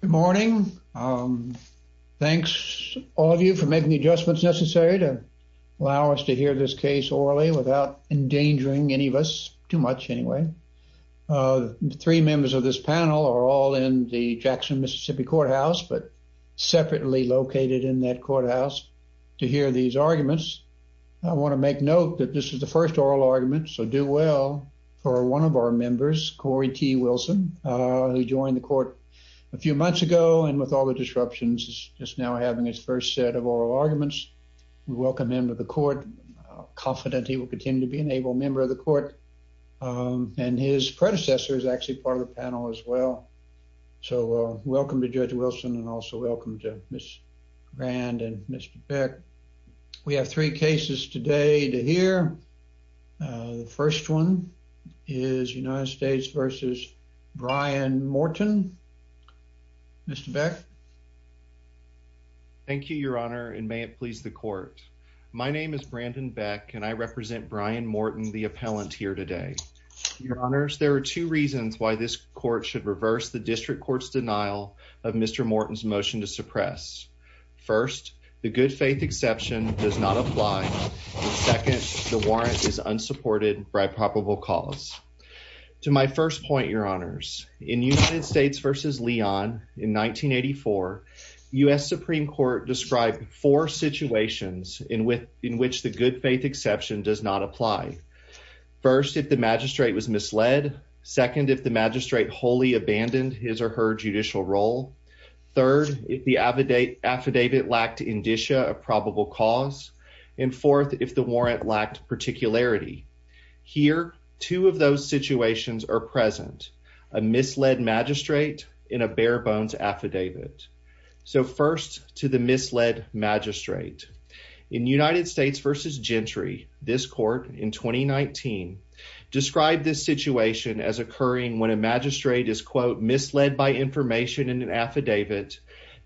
Good morning. Thanks, all of you for making the adjustments necessary to allow us to hear this case orally without endangering any of us, too much anyway. Three members of this panel are all in the Jackson, Mississippi courthouse, but separately located in that courthouse to hear these arguments. I want to make note that this is the first oral argument, so do well for one of our members, Corey T. Wilson, who joined the court a few months ago and with all the disruptions is just now having his first set of oral arguments. We welcome him to the court, confident he will continue to be an able member of the court, and his predecessor is actually part of the panel as well. So welcome to Judge Wilson and also welcome to Ms. Grand and Mr. Beck. We have three cases today to hear. The first one is United Mr. Beck. Thank you, Your Honor, and may it please the court. My name is Brandon Beck, and I represent Brian Morton, the appellant here today. Your Honors, there are two reasons why this court should reverse the district court's denial of Mr. Morton's motion to suppress. First, the good faith exception does not apply. Second, the warrant is unsupported by probable cause. To my first point, Your Honors, in United States v. Leon in 1984, U.S. Supreme Court described four situations in which the good faith exception does not apply. First, if the magistrate was misled. Second, if the magistrate wholly abandoned his or her judicial role. Third, if the affidavit lacked indicia of probable cause. And fourth, if the warrant lacked particularity. Here, two of those situations are present. A misled magistrate in a bare bones affidavit. So first, to the misled magistrate. In United States v. Gentry, this court in 2019, described this situation as occurring when a magistrate is, quote, misled by information in an affidavit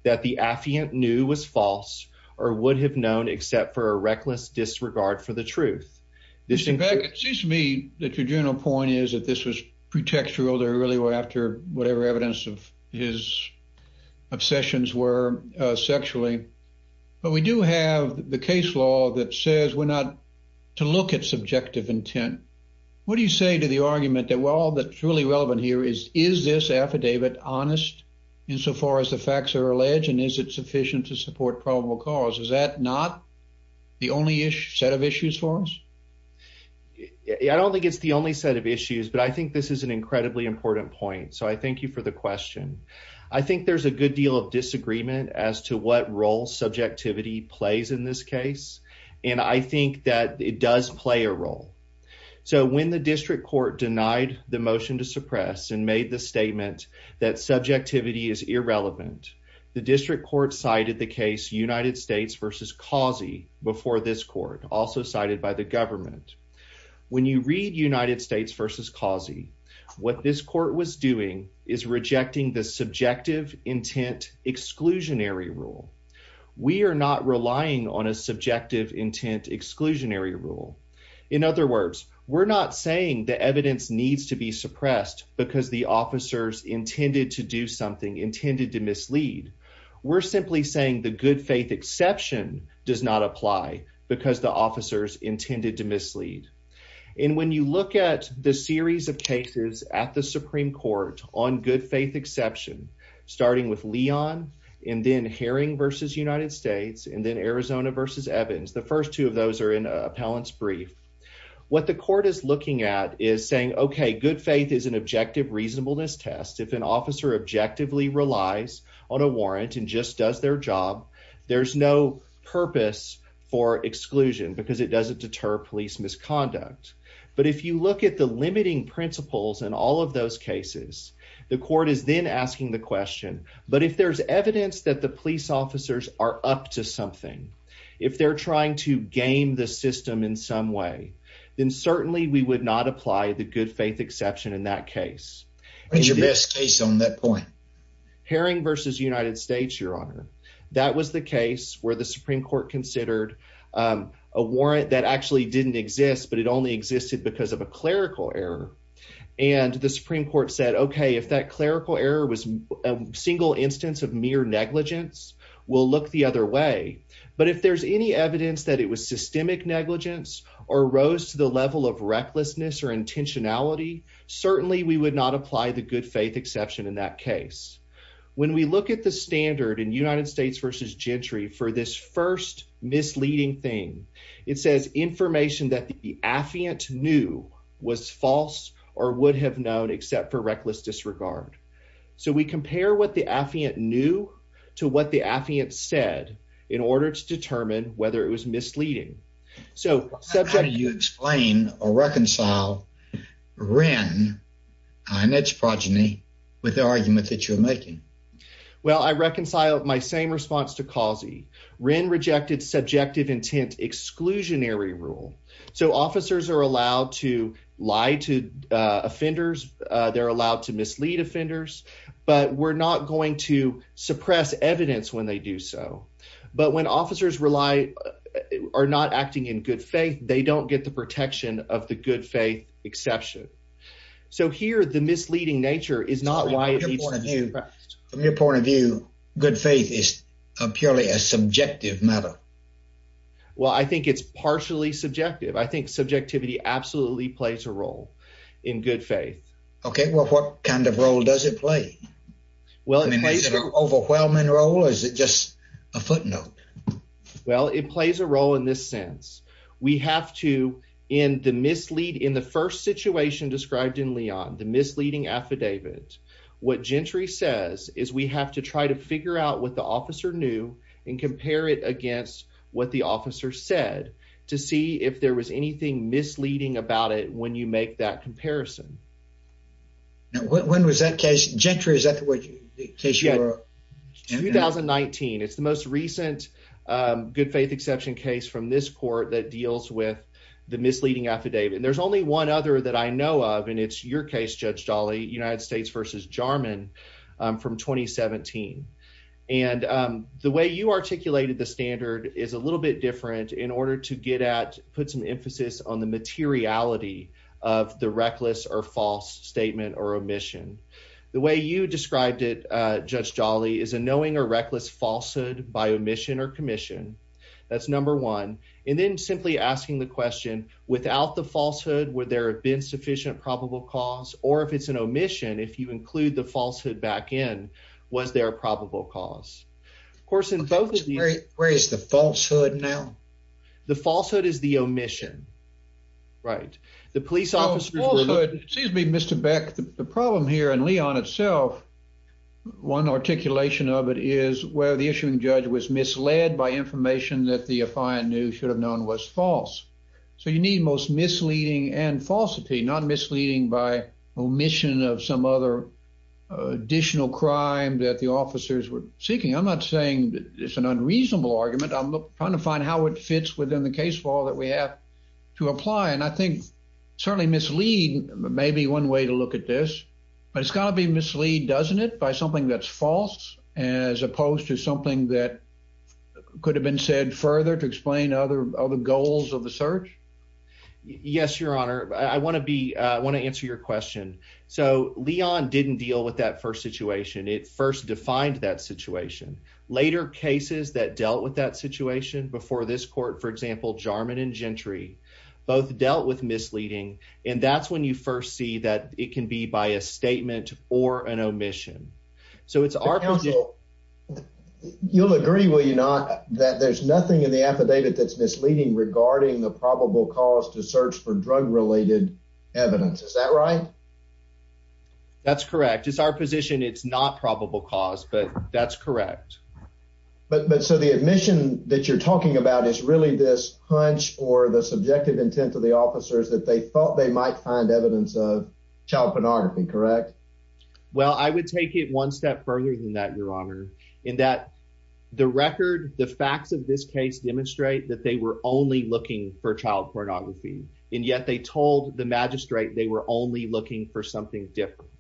that the affiant knew was false or would have known except for a reckless disregard for the truth. In fact, it seems to me that your general point is that this was pretextual. They really were after whatever evidence of his obsessions were sexually. But we do have the case law that says we're not to look at subjective intent. What do you say to the argument that while that's really relevant here is, is this affidavit honest insofar as the facts are alleged? And is it sufficient to support probable cause? Is that not the only issue set of issues for us? I don't think it's the only set of issues, but I think this is an incredibly important point. So I thank you for the question. I think there's a good deal of disagreement as to what role subjectivity plays in this case. And I think that it does play a role. So when the district court denied the motion to suppress and made the statement that subjectivity is irrelevant, the district court cited the case United States versus Causey before this court, also cited by the government. When you read United States versus Causey, what this court was doing is rejecting the subjective intent exclusionary rule. We are not relying on a subjective intent exclusionary rule. In other words, we're not saying the evidence needs to be suppressed because the officers intended to do something intended to mislead. We're simply saying the good faith exception does not apply because the officers intended to mislead. And when you look at the series of cases at the Supreme Court on good faith exception, starting with Leon and then Herring versus United States and then Arizona versus Evans, the first two of those are in brief. What the court is looking at is saying, okay, good faith is an objective reasonableness test. If an officer objectively relies on a warrant and just does their job, there's no purpose for exclusion because it doesn't deter police misconduct. But if you look at the limiting principles and all of those cases, the court is then asking the question, but if there's evidence that the police officers are up to something, if they're trying to game the system in some way, then certainly we would not apply the good faith exception in that case. What's your best case on that point? Herring versus United States, Your Honor. That was the case where the Supreme Court considered a warrant that actually didn't exist, but it only existed because of a clerical error. And the Supreme Court said, okay, if that will look the other way, but if there's any evidence that it was systemic negligence or rose to the level of recklessness or intentionality, certainly we would not apply the good faith exception in that case. When we look at the standard in United States versus Gentry for this first misleading thing, it says information that the affiant knew was false or would have known, except for reckless disregard. So we compare what the affiant knew to what the affiant said in order to determine whether it was misleading. How do you explain or reconcile Wren and its progeny with the argument that you're making? Well, I reconciled my same response to Causey. Wren rejected subjective intent exclusionary rule. So officers are allowed to offenders. They're allowed to mislead offenders, but we're not going to suppress evidence when they do so. But when officers are not acting in good faith, they don't get the protection of the good faith exception. So here, the misleading nature is not why it needs to be suppressed. From your point of view, good faith is purely a subjective matter. Well, I think it's partially subjective. I think subjectivity absolutely plays a role in good faith. Okay, well, what kind of role does it play? Well, is it an overwhelming role or is it just a footnote? Well, it plays a role in this sense. We have to, in the first situation described in Leon, the misleading affidavit, what Gentry says is we have to try to figure out what the officer knew and compare it against what the officer said to see if there was anything misleading about it when you make that comparison. Now, when was that case? Gentry, is that the case you were? 2019. It's the most recent good faith exception case from this court that deals with the misleading affidavit. And there's only one other that I know of, and it's your case, Judge Jolly, United States versus Jarman from 2017. And the way you articulated the standard is a little bit different in order to get at, put some emphasis on the materiality of the reckless or false statement or omission. The way you described it, Judge Jolly, is a knowing or reckless falsehood by omission or commission. That's number one. And then simply asking the question, without the falsehood, would there have been sufficient probable cause? Or if it's an omission, if you include the false in, was there a probable cause? Of course, in both of these. Where is the falsehood now? The falsehood is the omission, right? The police officers were. Excuse me, Mr. Beck, the problem here in Leon itself, one articulation of it is where the issuing judge was misled by information that the affiant knew should have known was false. So you need most misleading and falsity, not misleading by omission of some other additional crime that the officers were seeking. I'm not saying it's an unreasonable argument. I'm trying to find how it fits within the case law that we have to apply. And I think certainly mislead may be one way to look at this, but it's got to be mislead, doesn't it, by something that's false as opposed to something that could have been said further to explain other goals of the search? Yes, Your Honor, I want to answer your question. So Leon didn't deal with that first situation. It first defined that situation. Later cases that dealt with that situation before this court, for example, Jarman and Gentry, both dealt with misleading. And that's when you first see that it can be by a statement or an omission. So it's our counsel. You'll agree. Will you not that there's nothing in the affidavit that's misleading regarding the probable cause to search for drug related evidence? Is that right? That's correct. It's our position. It's not probable cause, but that's correct. But so the admission that you're talking about is really this hunch or the subjective intent of the officers that they thought they might find evidence of child pornography, correct? Well, I would take it one step further than that, Your Honor, in that the record, the facts of this case demonstrate that they were only looking for child pornography. And yet they told the magistrate they were only looking for something different.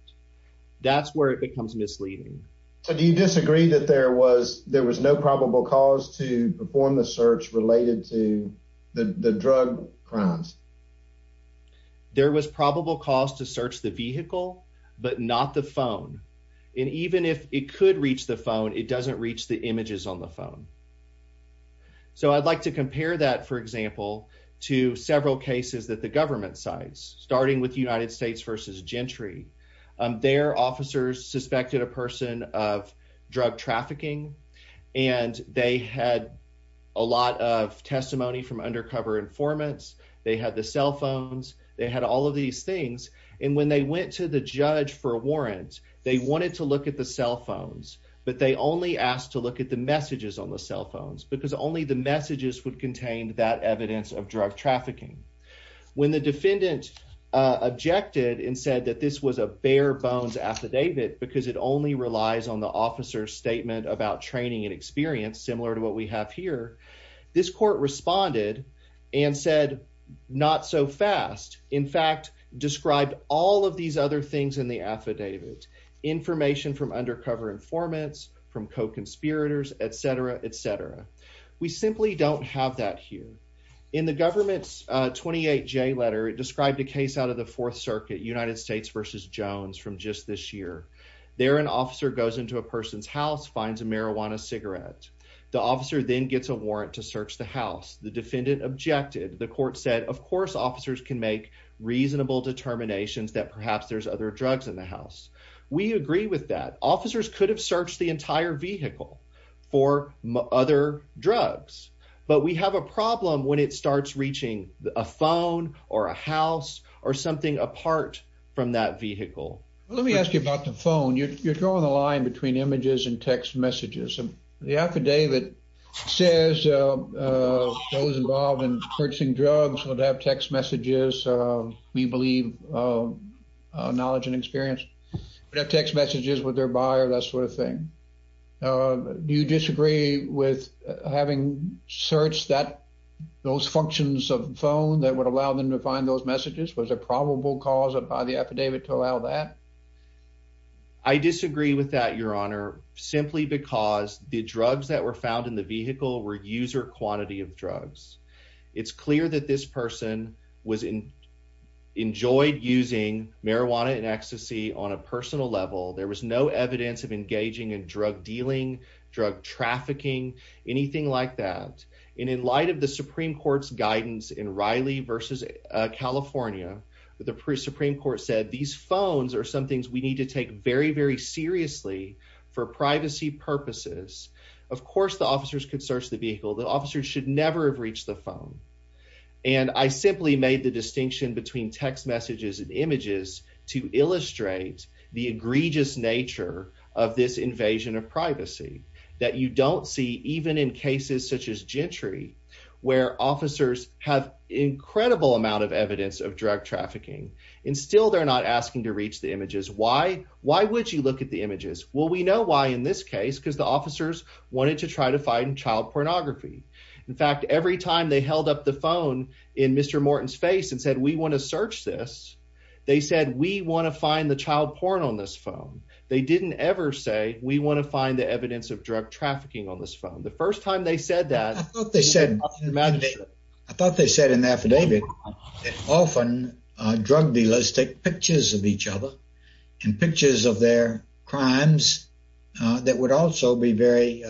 That's where it becomes misleading. So do you disagree that there was no probable cause to but not the phone? And even if it could reach the phone, it doesn't reach the images on the phone. So I'd like to compare that, for example, to several cases that the government sites, starting with United States versus Gentry. Their officers suspected a person of drug trafficking, and they had a lot of testimony from undercover informants. They had the cell phones. They had all of these things. And when they went to the judge for a warrant, they wanted to look at the cell phones, but they only asked to look at the messages on the cell phones because only the messages would contain that evidence of drug trafficking. When the defendant objected and said that this was a bare bones affidavit because it only relies on the officer's statement about training and experience, similar to what we have here, this court responded and said, not so fast. In fact, described all of these other things in the affidavit, information from undercover informants, from co-conspirators, et cetera, et cetera. We simply don't have that here. In the government's 28J letter, it described a case out of the Fourth Circuit, United States versus Jones, from just this year. There, an officer goes into a person's house, finds a marijuana cigarette. The officer then gets a warrant to search the house. The defendant objected. The court said, of course, officers can make reasonable determinations that perhaps there's other drugs in the house. We agree with that. Officers could have searched the entire vehicle for other drugs, but we have a problem when it starts reaching a phone or a house or something apart from that vehicle. Let me ask you about the phone. You're drawing the line between images and drugs. Would they have text messages? We believe knowledge and experience. Would they have text messages with their buyer, that sort of thing? Do you disagree with having searched those functions of the phone that would allow them to find those messages? Was there probable cause by the affidavit to allow that? I disagree with that, Your Honor, simply because the drugs that were found in the vehicle were quantity of drugs. It's clear that this person enjoyed using marijuana and ecstasy on a personal level. There was no evidence of engaging in drug dealing, drug trafficking, anything like that. In light of the Supreme Court's guidance in Riley versus California, the Supreme Court said these phones are some things we need to take very, very seriously for privacy purposes. Of course, officers could search the vehicle. The officers should never have reached the phone. I simply made the distinction between text messages and images to illustrate the egregious nature of this invasion of privacy that you don't see even in cases such as Gentry, where officers have incredible amount of evidence of drug trafficking. Still, they're not asking to reach the images. Why would you look at the images? We know why in this case, because the child pornography. In fact, every time they held up the phone in Mr. Morton's face and said, we want to search this, they said, we want to find the child porn on this phone. They didn't ever say, we want to find the evidence of drug trafficking on this phone. I thought they said in the affidavit that often drug dealers take pictures of each other and pictures of their crimes that would also be very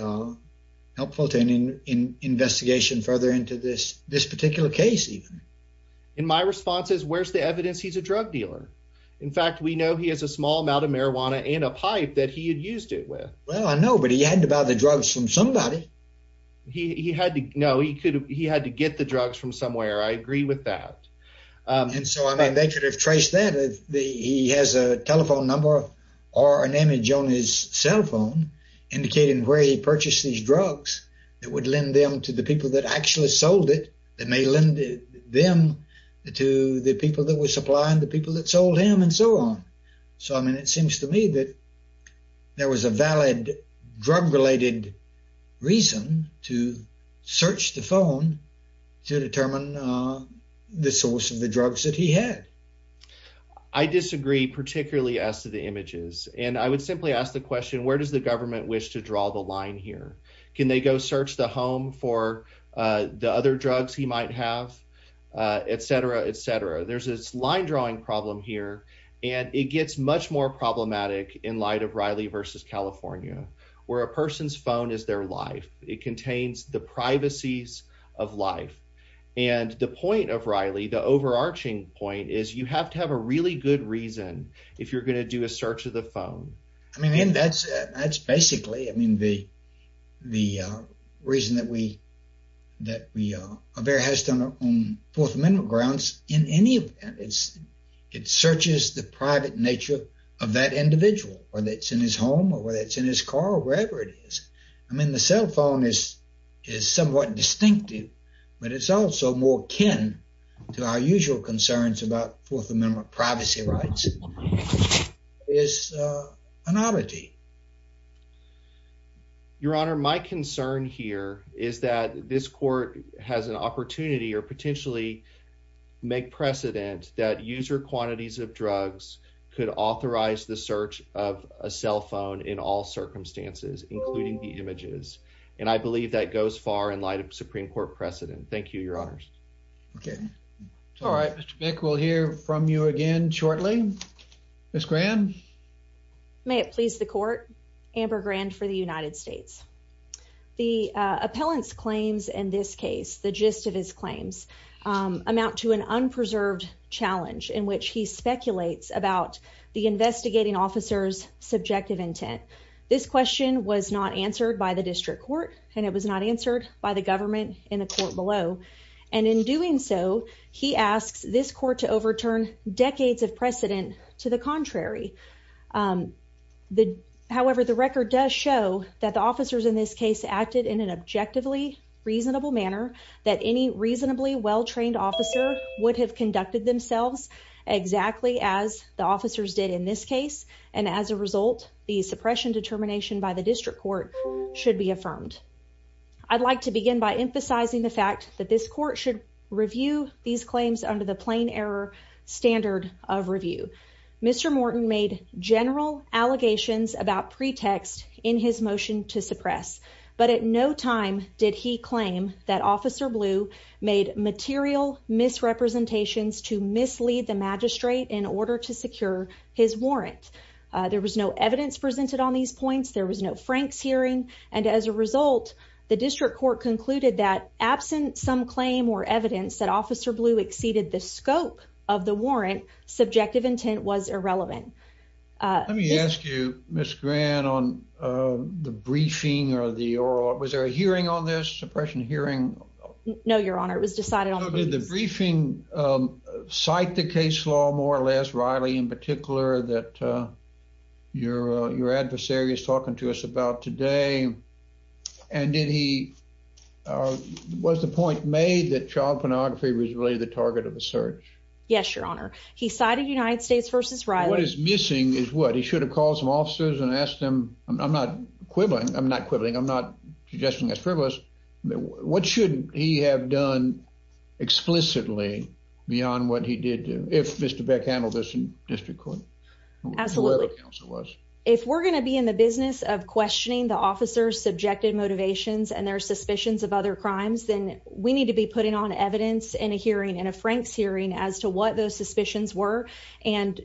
helpful to an investigation further into this particular case. In my responses, where's the evidence? He's a drug dealer. In fact, we know he has a small amount of marijuana and a pipe that he had used it with. Well, I know, but he had to buy the drugs from somebody. He had to know he could. He had to get the drugs from somewhere. I agree with that. They could have traced that. He has a telephone number or an image on his cell phone indicating where he purchased these drugs that would lend them to the people that actually sold it. It may lend them to the people that were supplying the people that sold him and so on. It seems to me that there was a valid drug related reason to search the phone to determine the source of the drugs that he had. I disagree, particularly as to the images. I would simply ask the question, where does the government wish to draw the line here? Can they go search the home for the other drugs he might have, et cetera, et cetera. There's this line drawing problem here. It gets much more problematic in light of Riley v. California, where a person's phone is their life. The point of Riley, the overarching point is you have to have a really good reason if you're going to do a search of the phone. That's basically the reason that Avera has done it on Fourth Amendment grounds. It searches the private nature of that individual, whether it's in his home or whether it's in his car or wherever it is. The cell phone is somewhat distinctive. It's also more akin to our usual concerns about Fourth Amendment privacy rights. It's an oddity. Your Honor, my concern here is that this court has an opportunity or potentially make precedent that user quantities of drugs could authorize the search of a cell phone in all circumstances, including the images. I believe that goes far in light of Supreme Court precedent. Thank you, Your Honors. All right, Mr. Bick, we'll hear from you again shortly. Ms. Grand? May it please the Court, Amber Grand for the United States. The appellant's claims in this case, the gist of his claims, amount to an unpreserved challenge in which he speculates about the investigating officer's subjective intent. This question was not answered by the district court and it was not answered by the government in the court below. And in doing so, he asks this court to overturn decades of precedent to the contrary. However, the record does show that the officers in this case acted in an objectively reasonable manner, that any reasonably well-trained officer would have conducted themselves exactly as the officers did in this case. And as a result, the suppression determination by the district court should be affirmed. I'd like to begin by emphasizing the fact that this court should review these claims under the plain error standard of review. Mr. Morton made general allegations about pretext in his motion to suppress, but at no time did he claim that Officer Blue made material misrepresentations to mislead the magistrate in order to secure his warrant. There was no evidence presented on these points, there was no Frank's hearing, and as a result, the district court concluded that absent some claim or evidence that Officer Blue exceeded the scope of the warrant, subjective intent was irrelevant. Let me ask you, Ms. Grant, on the briefing or the oral, was there a hearing on this suppression hearing? No, your honor, it was decided Did the briefing cite the case law, more or less, Riley, in particular, that your adversary is talking to us about today? And did he, was the point made that child pornography was really the target of the search? Yes, your honor. He cited United States versus Riley. What is missing is what? He should have called some officers and asked them, I'm not quibbling, I'm not quibbling, I'm not suggesting that's frivolous. What should he have done explicitly beyond what he did, if Mr. Beck handled this in district court? Absolutely. If we're going to be in the business of questioning the officer's subjective motivations and their suspicions of other crimes, then we need to be putting on evidence in a hearing and a Frank's hearing as to what those suspicions were. And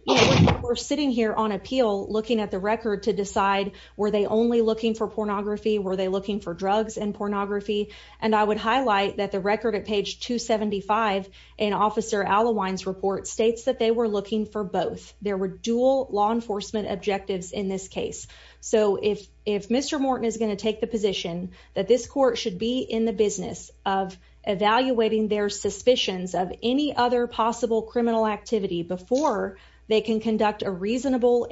we're sitting here on appeal, looking at the record to decide, were they only looking for pornography? Were they looking for drugs and pornography? And I would highlight that the record at page 275, an officer Alawine's report states that they were looking for both. There were dual law enforcement objectives in this case. So if Mr. Morton is going to take the position that this court should be in the business of evaluating their suspicions of any other possible criminal activity before they can conduct a trial,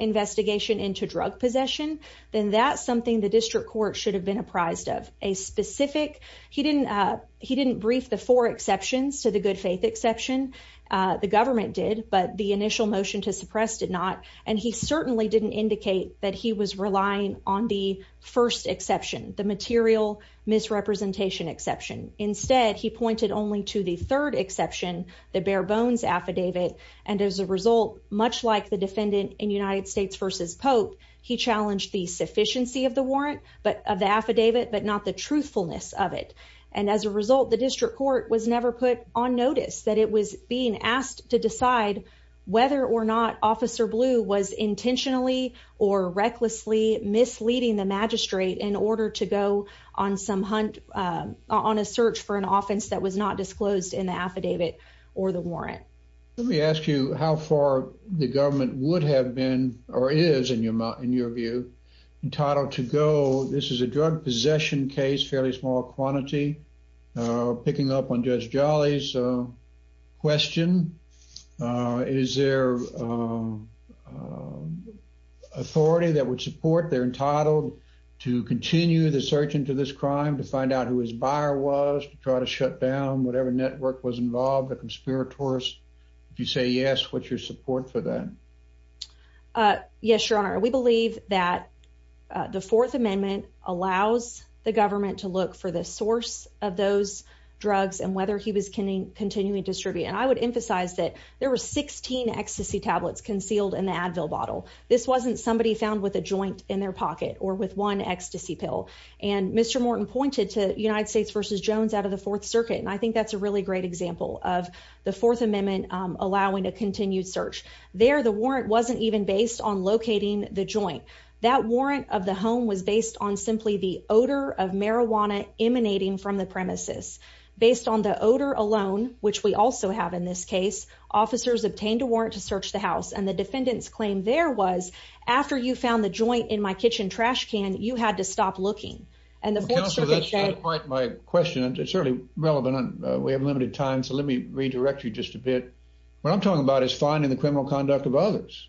then that's something the district court should have been apprised of. He didn't brief the four exceptions to the good faith exception. The government did, but the initial motion to suppress did not. And he certainly didn't indicate that he was relying on the first exception, the material misrepresentation exception. Instead, he pointed only to the third exception, the bare bones affidavit. And as a result, much like the defendant in United States versus Pope, he challenged the sufficiency of the warrant, of the affidavit, but not the truthfulness of it. And as a result, the district court was never put on notice that it was being asked to decide whether or not Officer Blue was intentionally or recklessly misleading the magistrate in order to go on some hunt, on a search for an offense that was not disclosed in the affidavit or the warrant. Let me ask you how far the government would have been or is, in your view, entitled to go. This is a drug possession case, fairly small quantity. Picking up on Judge Jolly's question, is there authority that would support their entitlement to continue the search into this crime, to find out who his buyer was, to try to shut down whatever network was involved, the conspirators? If you say yes, what's your support for that? Yes, Your Honor. We believe that the Fourth Amendment allows the government to look for the source of those drugs and whether he was continuing to distribute. And I would emphasize that there were 16 ecstasy tablets concealed in the Advil bottle. This wasn't somebody found with a joint in their pocket or with one ecstasy pill. And Mr. Morton pointed to United States versus Jones out of the Fourth Circuit. And I think that's a really great example of the Fourth Amendment allowing a continued search. There, the warrant wasn't even based on locating the joint. That warrant of the home was based on simply the odor of marijuana emanating from the premises. Based on the odor alone, which we also have in this case, officers obtained a warrant to search the house. And the defendant's claim there was, after you found the joint in my kitchen trash can, you had to stop looking. And the Fourth Circuit said- Counsel, that's not quite my question. It's certainly relevant. We have limited time, so let me redirect you just a bit. What I'm talking about is finding the criminal conduct of others.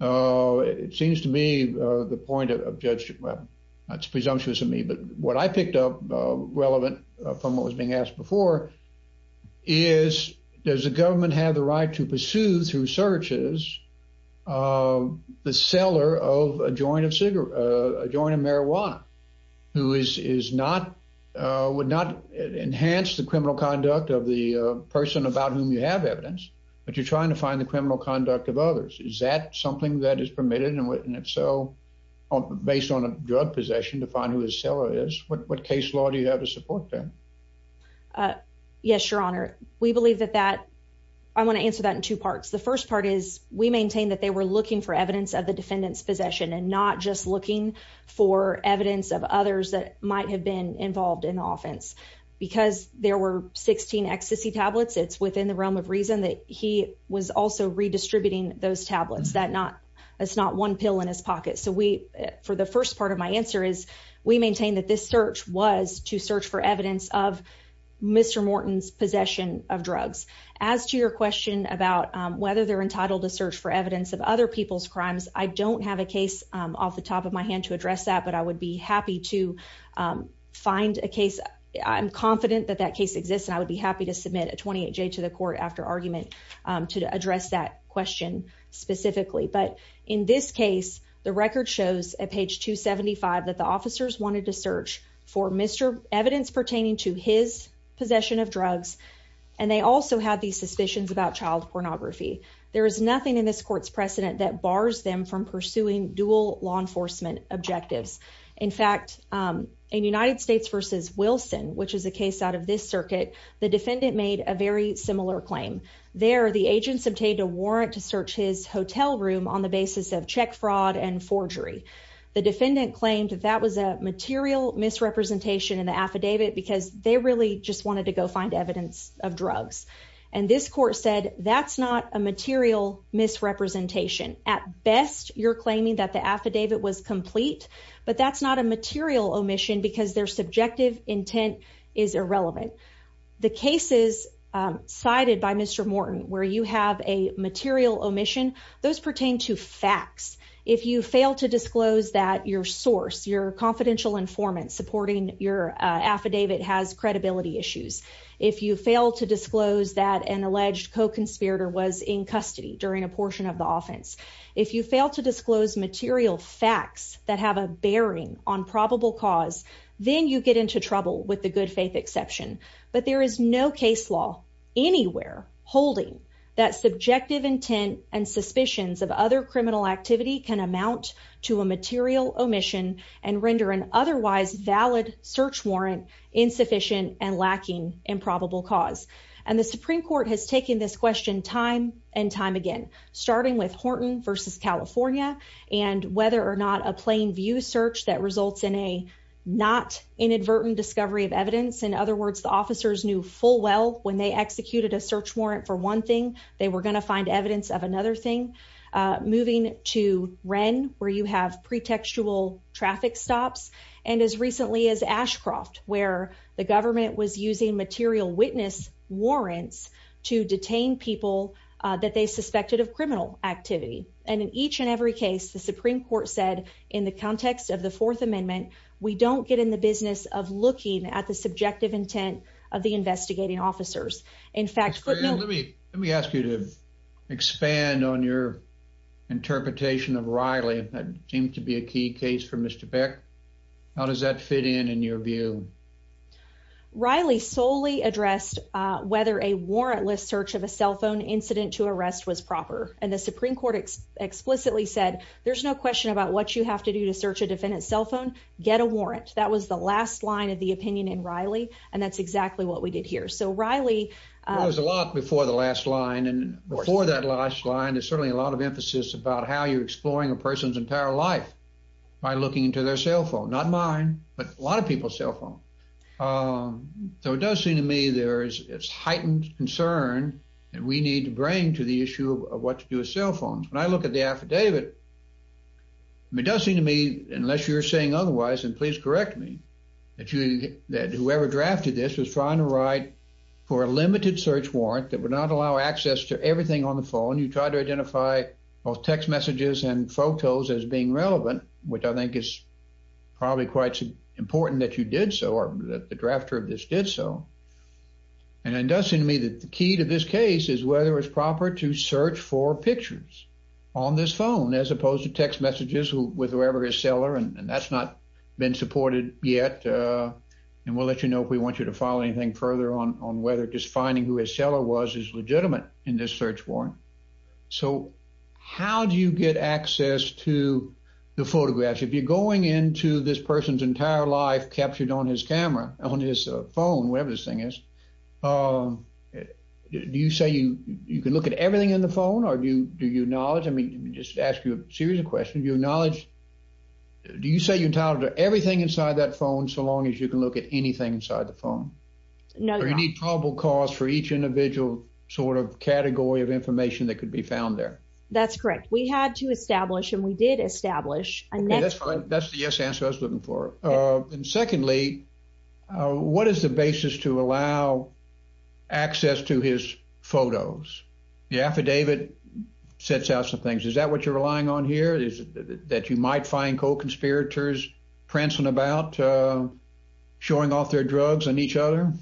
It seems to me the point of Judge, well, it's presumptuous of me, but what I picked up relevant from what was being asked before is, does the government have the right to pursue through searches the seller of a joint of marijuana, who would not enhance the criminal conduct of the person about whom you have evidence, but you're trying to find the criminal conduct of others? Is that something that is permitted, and if so, based on a drug possession, to find who the seller is? What case law do you have to support that? Uh, yes, Your Honor. We believe that that, I want to answer that in two parts. The first part is, we maintain that they were looking for evidence of the defendant's possession and not just looking for evidence of others that might have been involved in the offense. Because there were 16 ecstasy tablets, it's within the realm of reason that he was also redistributing those tablets. That not, it's not one pill in his pocket. So we, for the first part of my answer is, we maintain that this search was to search for evidence of Mr. Morton's possession of drugs. As to your question about whether they're entitled to search for evidence of other people's crimes, I don't have a case off the top of my hand to address that, but I would be happy to find a case. I'm confident that that case exists, and I would be happy to submit a 28J to the court after argument to address that question specifically. But in this case, the record shows at page 275 that the officers wanted to search for Mr. evidence pertaining to his possession of drugs, and they also had these suspicions about child pornography. There is nothing in this court's precedent that bars them from pursuing dual law enforcement objectives. In fact, in United States versus Wilson, which is a case out of this circuit, the defendant made a very similar claim. There, the agents obtained a warrant to search his hotel room on the basis of check fraud and forgery. The defendant claimed that that was a material misrepresentation in the affidavit because they really just wanted to go find evidence of drugs. And this court said, that's not a material misrepresentation. At best, you're claiming that the affidavit was complete, but that's not a material omission because their subjective intent is irrelevant. The cases cited by Mr. Morton where you have a material omission, those pertain to facts. If you fail to disclose that your source, your confidential informant supporting your affidavit has credibility issues, if you fail to disclose that an alleged co-conspirator was in custody during a portion of the offense, if you fail to disclose material facts that have a bearing on probable cause, then you get into trouble with the good faith exception. But there is no case law anywhere holding that subjective intent and suspicions of other criminal activity can amount to a material omission and render an otherwise valid search warrant insufficient and lacking in probable cause. And the Supreme Court has taken this question time and time again, starting with not inadvertent discovery of evidence. In other words, the officers knew full well, when they executed a search warrant for one thing, they were going to find evidence of another thing. Moving to Wren, where you have pretextual traffic stops. And as recently as Ashcroft, where the government was using material witness warrants to detain people that they suspected of criminal activity. And in each and every case, the Supreme Court said in the context of the business of looking at the subjective intent of the investigating officers. In fact, let me let me ask you to expand on your interpretation of Riley. That seems to be a key case for Mr. Beck. How does that fit in in your view? Riley solely addressed whether a warrantless search of a cell phone incident to arrest was proper. And the Supreme Court explicitly said there's no question about what you have to do to search a defendant's cell phone, get a warrant. That was the last line of the opinion in Riley. And that's exactly what we did here. So Riley... It was a lot before the last line. And before that last line, there's certainly a lot of emphasis about how you're exploring a person's entire life by looking into their cell phone, not mine, but a lot of people's cell phone. So it does seem to me there is heightened concern that we need to bring to the court. It does seem to me, unless you're saying otherwise, and please correct me, that whoever drafted this was trying to write for a limited search warrant that would not allow access to everything on the phone. You tried to identify both text messages and photos as being relevant, which I think is probably quite important that you did so, or that the drafter of this did so. And it does seem to me that the key to this case is whether it's proper to search for pictures on this phone as opposed to text messages with whoever his seller, and that's not been supported yet. And we'll let you know if we want you to follow anything further on whether just finding who his seller was is legitimate in this search warrant. So how do you get access to the photographs? If you're going into this person's entire life captured on his camera, on his phone, whatever this thing is, do you say you can look at everything in the phone, or do you acknowledge? I mean, let me just ask you a series of questions. Do you acknowledge, do you say you're entitled to everything inside that phone so long as you can look at anything inside the phone? No, you're not. Or you need probable cause for each individual sort of category of information that could be found there? That's correct. We had to establish, and we did establish a net... Okay, that's fine. That's the yes answer I was looking for. And secondly, what is the basis to allow access to his photos? The affidavit sets out some things. Is that what you're relying on here? That you might find co-conspirators prancing about, showing off their drugs on each other?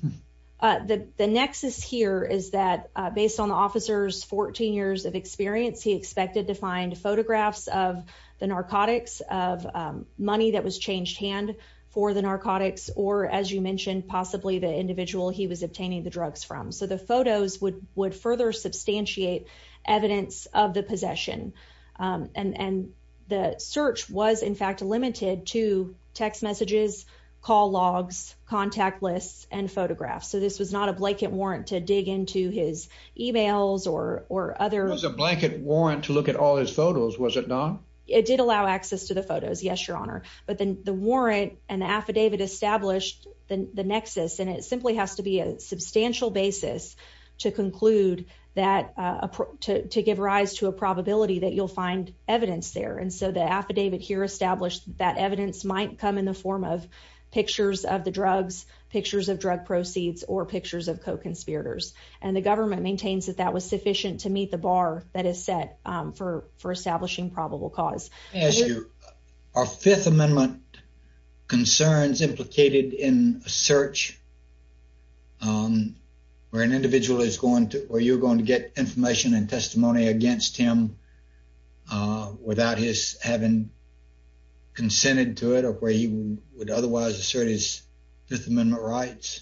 The nexus here is that based on the officer's 14 years of experience, he expected to find photographs of the narcotics, of money that was changed hand for the narcotics, or as you mentioned, possibly the individual he was obtaining the drugs from. So the photos would further substantiate evidence of the possession. And the search was in fact limited to text messages, call logs, contact lists, and photographs. So this was not a blanket warrant to dig into his emails or other... It was a blanket warrant to look at all his photos, was it not? It did allow access to the photos. Yes, but then the warrant and the affidavit established the nexus, and it simply has to be a substantial basis to conclude that... To give rise to a probability that you'll find evidence there. And so the affidavit here established that evidence might come in the form of pictures of the drugs, pictures of drug proceeds, or pictures of co-conspirators. And the government maintains that that was sufficient to meet the bar that is set for establishing probable cause. May I ask you, are Fifth Amendment concerns implicated in a search where an individual is going to... Where you're going to get information and testimony against him without his having consented to it, or where he would otherwise assert his Fifth Amendment rights?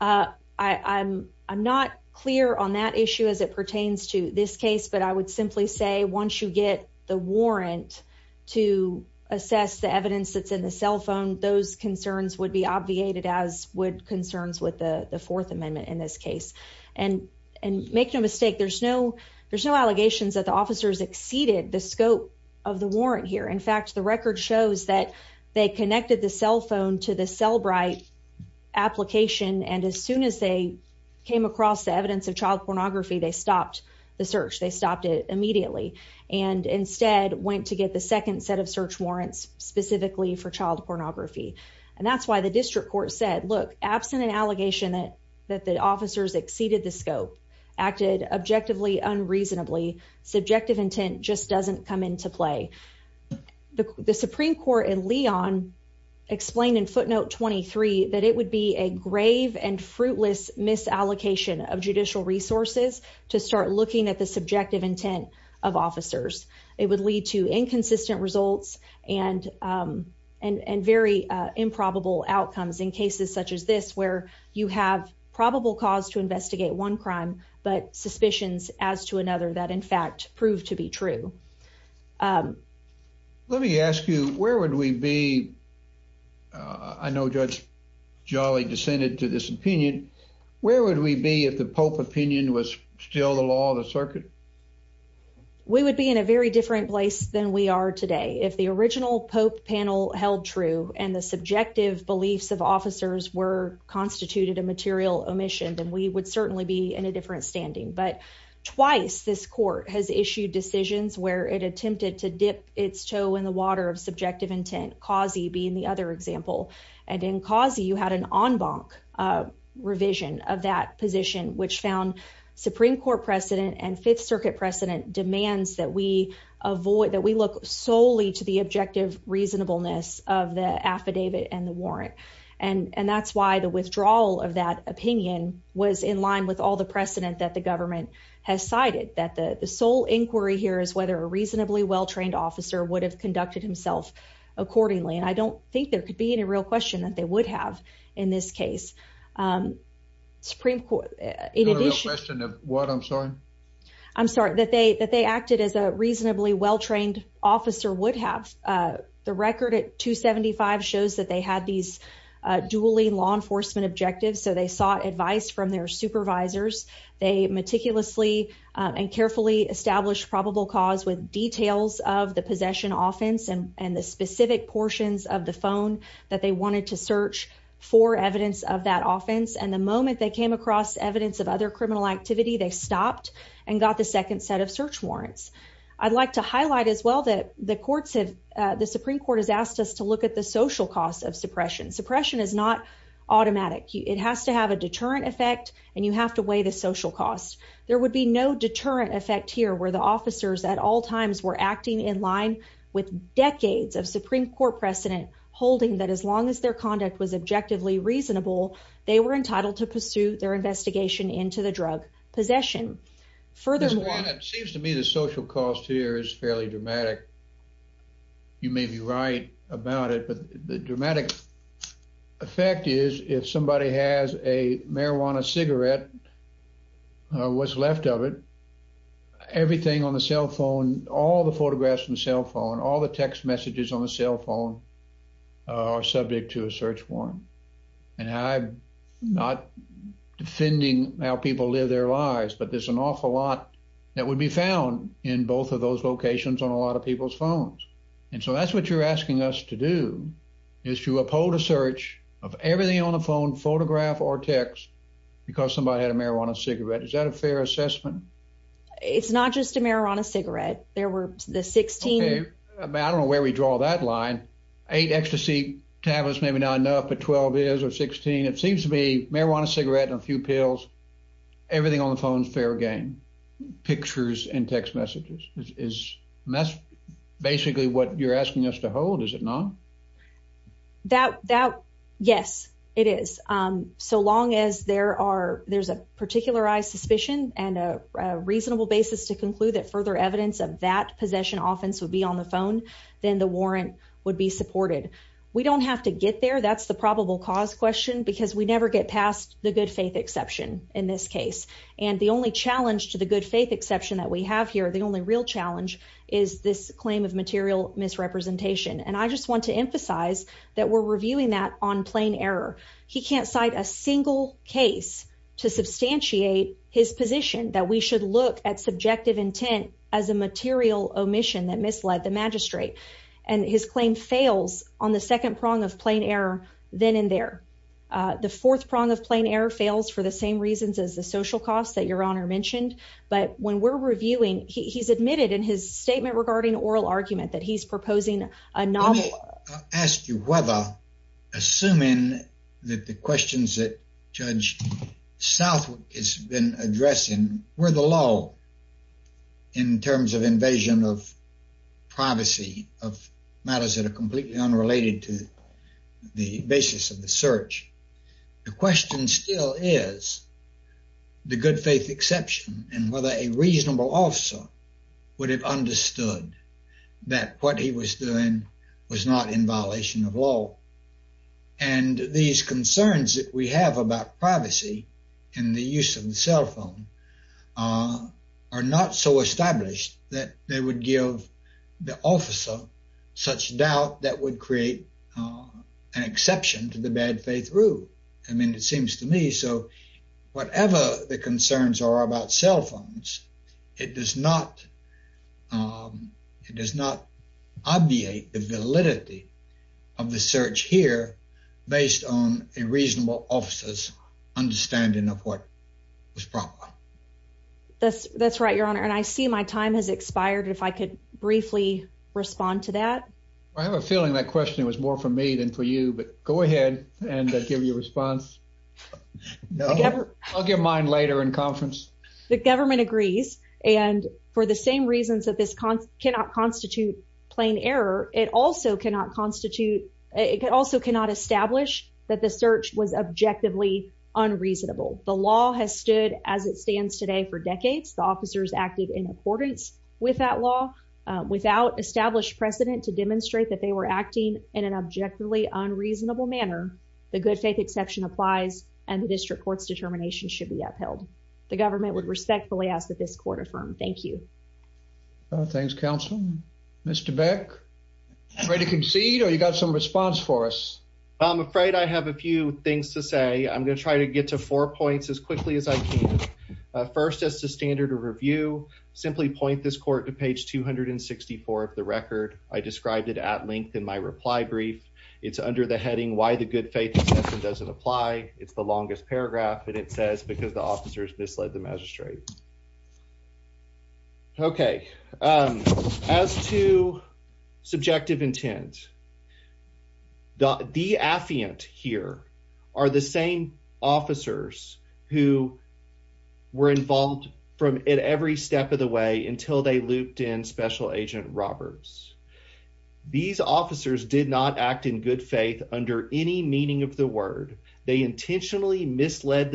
I'm not clear on that issue as it pertains to this case, but I would simply say once you get the warrant to assess the evidence that's in the cell phone, those concerns would be obviated as would concerns with the Fourth Amendment in this case. And make no mistake, there's no allegations that the officers exceeded the scope of the warrant here. In fact, the record shows that they connected the cell phone to the Cellbrite application, and as soon as they came across the went to get the second set of search warrants specifically for child pornography. And that's why the district court said, look, absent an allegation that the officers exceeded the scope, acted objectively unreasonably, subjective intent just doesn't come into play. The Supreme Court in Leon explained in footnote 23 that it would be a grave and fruitless misallocation of judicial resources to start looking at the subjective intent of officers. It would lead to inconsistent results and very improbable outcomes in cases such as this, where you have probable cause to investigate one crime, but suspicions as to another that in fact proved to be true. Let me ask you, where would we be? I know Judge Jolly dissented to this opinion. Where would we be if the Pope opinion was still the law of the circuit? We would be in a very different place than we are today. If the original Pope panel held true, and the subjective beliefs of officers were constituted a material omission, then we would certainly be in a different standing. But twice this court has issued decisions where it attempted to dip its toe in the water of subjective intent, Causey being the other example. And in Causey, you had an en banc revision of that position, which found Supreme Court precedent and Fifth Circuit precedent demands that we look solely to the objective reasonableness of the affidavit and the warrant. And that's why the withdrawal of that opinion was in line with all the precedent that the government has cited. That the sole inquiry here is whether a reasonably well-trained officer would have conducted himself accordingly. And I don't think there could be any real question that they would have in this case. I'm sorry, that they acted as a reasonably well-trained officer would have. The record at 275 shows that they had these duly law enforcement objectives. So they sought advice from their supervisors. They meticulously and carefully established probable cause with details of the possession offense and the specific portions of the phone that they wanted to search for evidence of that offense. And the moment they came across evidence of other criminal activity, they stopped and got the second set of search warrants. I'd like to highlight as well that the Supreme Court has asked us to look at the social cost of suppression. Suppression is not automatic. It has to have a deterrent effect and you have to weigh the social cost. There would be no deterrent effect here where the officers at all times were that as long as their conduct was objectively reasonable, they were entitled to pursue their investigation into the drug possession. Furthermore... It seems to me the social cost here is fairly dramatic. You may be right about it, but the dramatic effect is if somebody has a marijuana cigarette, what's left of it, everything on the cell phone, all the photographs from the cell phone, all the text messages on the cell phone are subject to a search warrant. And I'm not defending how people live their lives, but there's an awful lot that would be found in both of those locations on a lot of people's phones. And so that's what you're asking us to do is to uphold a search of everything on the phone, photograph or text, because somebody had a marijuana cigarette. Is that a fair assessment? It's not just a marijuana cigarette. There were the 16... I don't know where we draw that line. Eight ecstasy tablets, maybe not enough, but 12 is, or 16. It seems to be marijuana cigarette and a few pills. Everything on the phone is fair game. Pictures and text messages. That's basically what you're asking us to hold, is it not? Yes, it is. So long as there's a particularized suspicion and a reasonable basis to conclude that further evidence of that possession offense would be on the phone, then the warrant would be supported. We don't have to get there. That's the probable cause question because we never get past the good faith exception in this case. And the only challenge to the good faith exception that we have here, the only real challenge is this claim of material misrepresentation. And I just want to emphasize that we're reviewing that on plain error. He can't cite a single case to substantiate his position that we should look at subjective intent as a material omission that misled the magistrate. And his claim fails on the second prong of plain error then and there. The fourth prong of plain error fails for the same reasons as the social costs that your honor mentioned. But when we're reviewing, he's admitted in his statement regarding oral argument that he's asked you whether, assuming that the questions that Judge Southwick has been addressing were the law in terms of invasion of privacy of matters that are completely unrelated to the basis of the search. The question still is the good faith exception and whether a reasonable officer would understood that what he was doing was not in violation of law. And these concerns that we have about privacy and the use of the cell phone are not so established that they would give the officer such doubt that would create an exception to the bad faith rule. I mean, it seems to me so whatever the concerns are about cell phones, it does not obviate the validity of the search here based on a reasonable officer's understanding of what was proper. That's right, your honor. And I see my time has expired. If I could briefly respond to that. I have a feeling that question was more for me than for you, but go ahead and give your response. No, I'll give mine later in conference. The government agrees. And for the same reasons that this cannot constitute plain error, it also cannot constitute, it also cannot establish that the search was objectively unreasonable. The law has stood as it stands today for decades. The officers acted in accordance with that law without established precedent to demonstrate that they were acting in an objectively unreasonable manner. The good faith exception applies and the district court's determination should be upheld. The government would respectfully ask that this court affirm. Thank you. Thanks, counsel. Mr. Beck, ready to concede or you got some response for us? I'm afraid I have a few things to say. I'm going to try to get to four points as quickly as I can. First, as the standard of review, simply point this court to page 264 of the record. I described it at length in my reply brief. It's under the heading why the good faith exception doesn't apply. It's the longest paragraph and it says because the officers misled the magistrate. Okay, as to subjective intent, the affiant here are the same officers who were misled by the magistrate. They intentionally misled the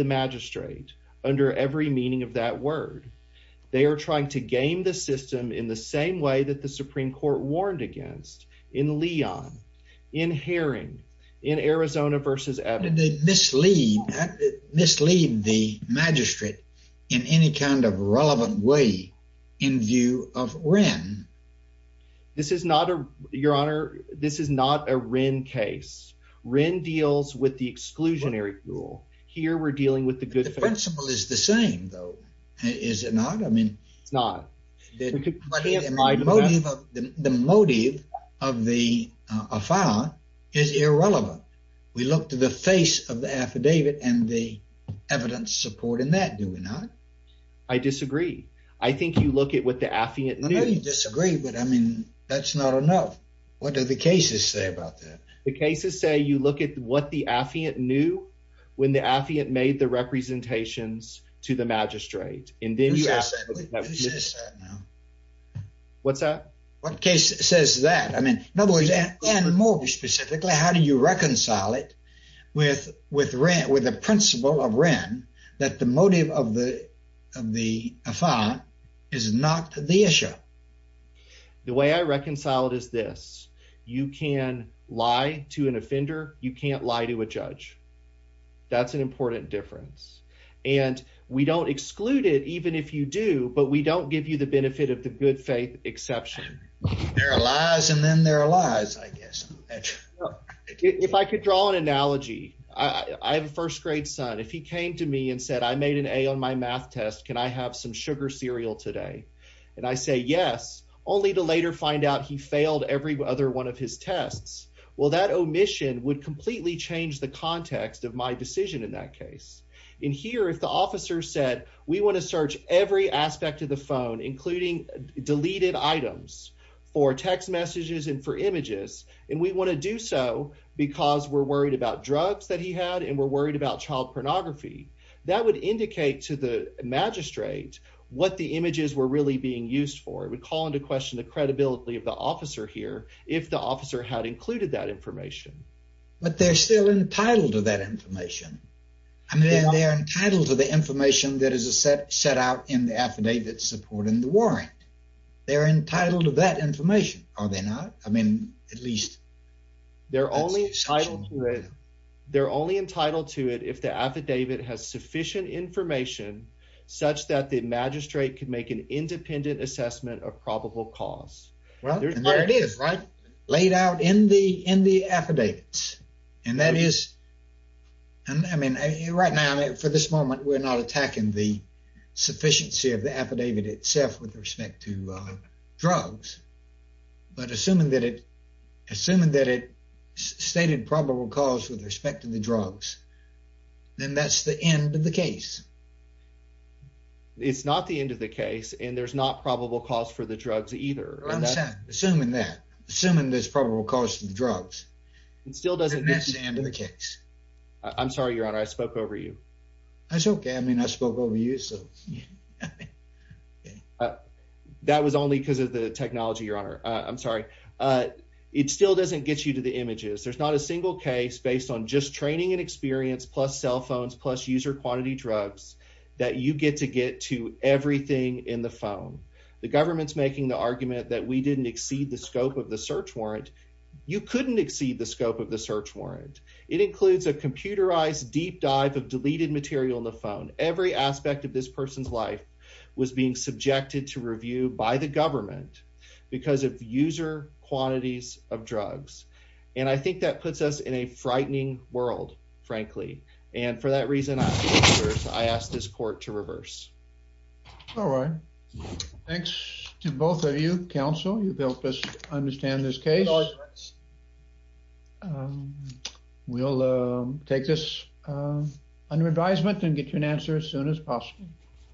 magistrate under every meaning of that word. They are trying to game the system in the same way that the Supreme Court warned against in Leon, in Herring, in Arizona versus Evans. Did they mislead the magistrate in any kind of way? Your Honor, this is not a Wren case. Wren deals with the exclusionary rule. Here, we're dealing with the good faith. The principle is the same though, is it not? I mean, the motive of the affair is irrelevant. We look to the face of the affidavit and the evidence supporting that, do we not? I disagree. I think you look at what the affiant knew. I know you disagree, but I mean, that's not enough. What do the cases say about that? The cases say you look at what the affiant knew when the affiant made the representations to the magistrate. Who says that now? What's that? What case says that? I mean, in other words, and more specifically, how do you reconcile it with the principle of Wren that the motive of the affair is not the issue? The way I reconcile it is this. You can lie to an offender. You can't lie to a judge. That's an important difference, and we don't exclude it even if you do, but we don't give you the benefit of the good faith exception. There are lies, and then there are lies, I guess. Well, if I could draw an analogy, I have a first grade son. If he came to me and said, I made an A on my math test. Can I have some sugar cereal today? And I say yes, only to later find out he failed every other one of his tests. Well, that omission would completely change the context of my decision in that case. In here, if the officer said, we want to search every aspect of the phone, including deleted items for text messages and for images, and we want to do so because we're worried about drugs that he had and we're worried about child pornography, that would indicate to the magistrate what the images were really being used for. It would call into question the credibility of the officer here if the officer had included that information. But they're still entitled to that information. I mean, they're entitled to the information that is set out in the affidavit supporting the warrant. They're entitled to that information, are they not? I mean, at least. They're only entitled to it if the affidavit has sufficient information such that the magistrate could make an independent assessment of probable cause. Well, there it is, right? Laid out in the affidavits. And that is, I mean, right now, for this moment, we're not attacking the sufficiency of the affidavit itself with respect to drugs. But assuming that it stated probable cause with respect to the drugs, then that's the end of the case. It's not the end of the case, and there's not probable cause for the drugs either. I'm sorry. Assuming that. Assuming there's probable cause for the drugs. It still doesn't get to the end of the case. I'm sorry, Your Honor. I spoke over you. That's okay. I mean, I spoke over you. That was only because of the technology, Your Honor. I'm sorry. It still doesn't get you to the images. There's not a single case based on just training and experience plus cell phones plus user quantity drugs that you get to get to everything in the phone. The government's making the argument that we didn't exceed the scope of the search warrant. You couldn't exceed the scope the search warrant. It includes a computerized deep dive of deleted material in the phone. Every aspect of this person's life was being subjected to review by the government because of user quantities of drugs. And I think that puts us in a frightening world, frankly. And for that reason, I asked this court to reverse. All right. Thanks to both of you. Counsel, you've helped us understand this case. We'll take this under advisement and get you an answer as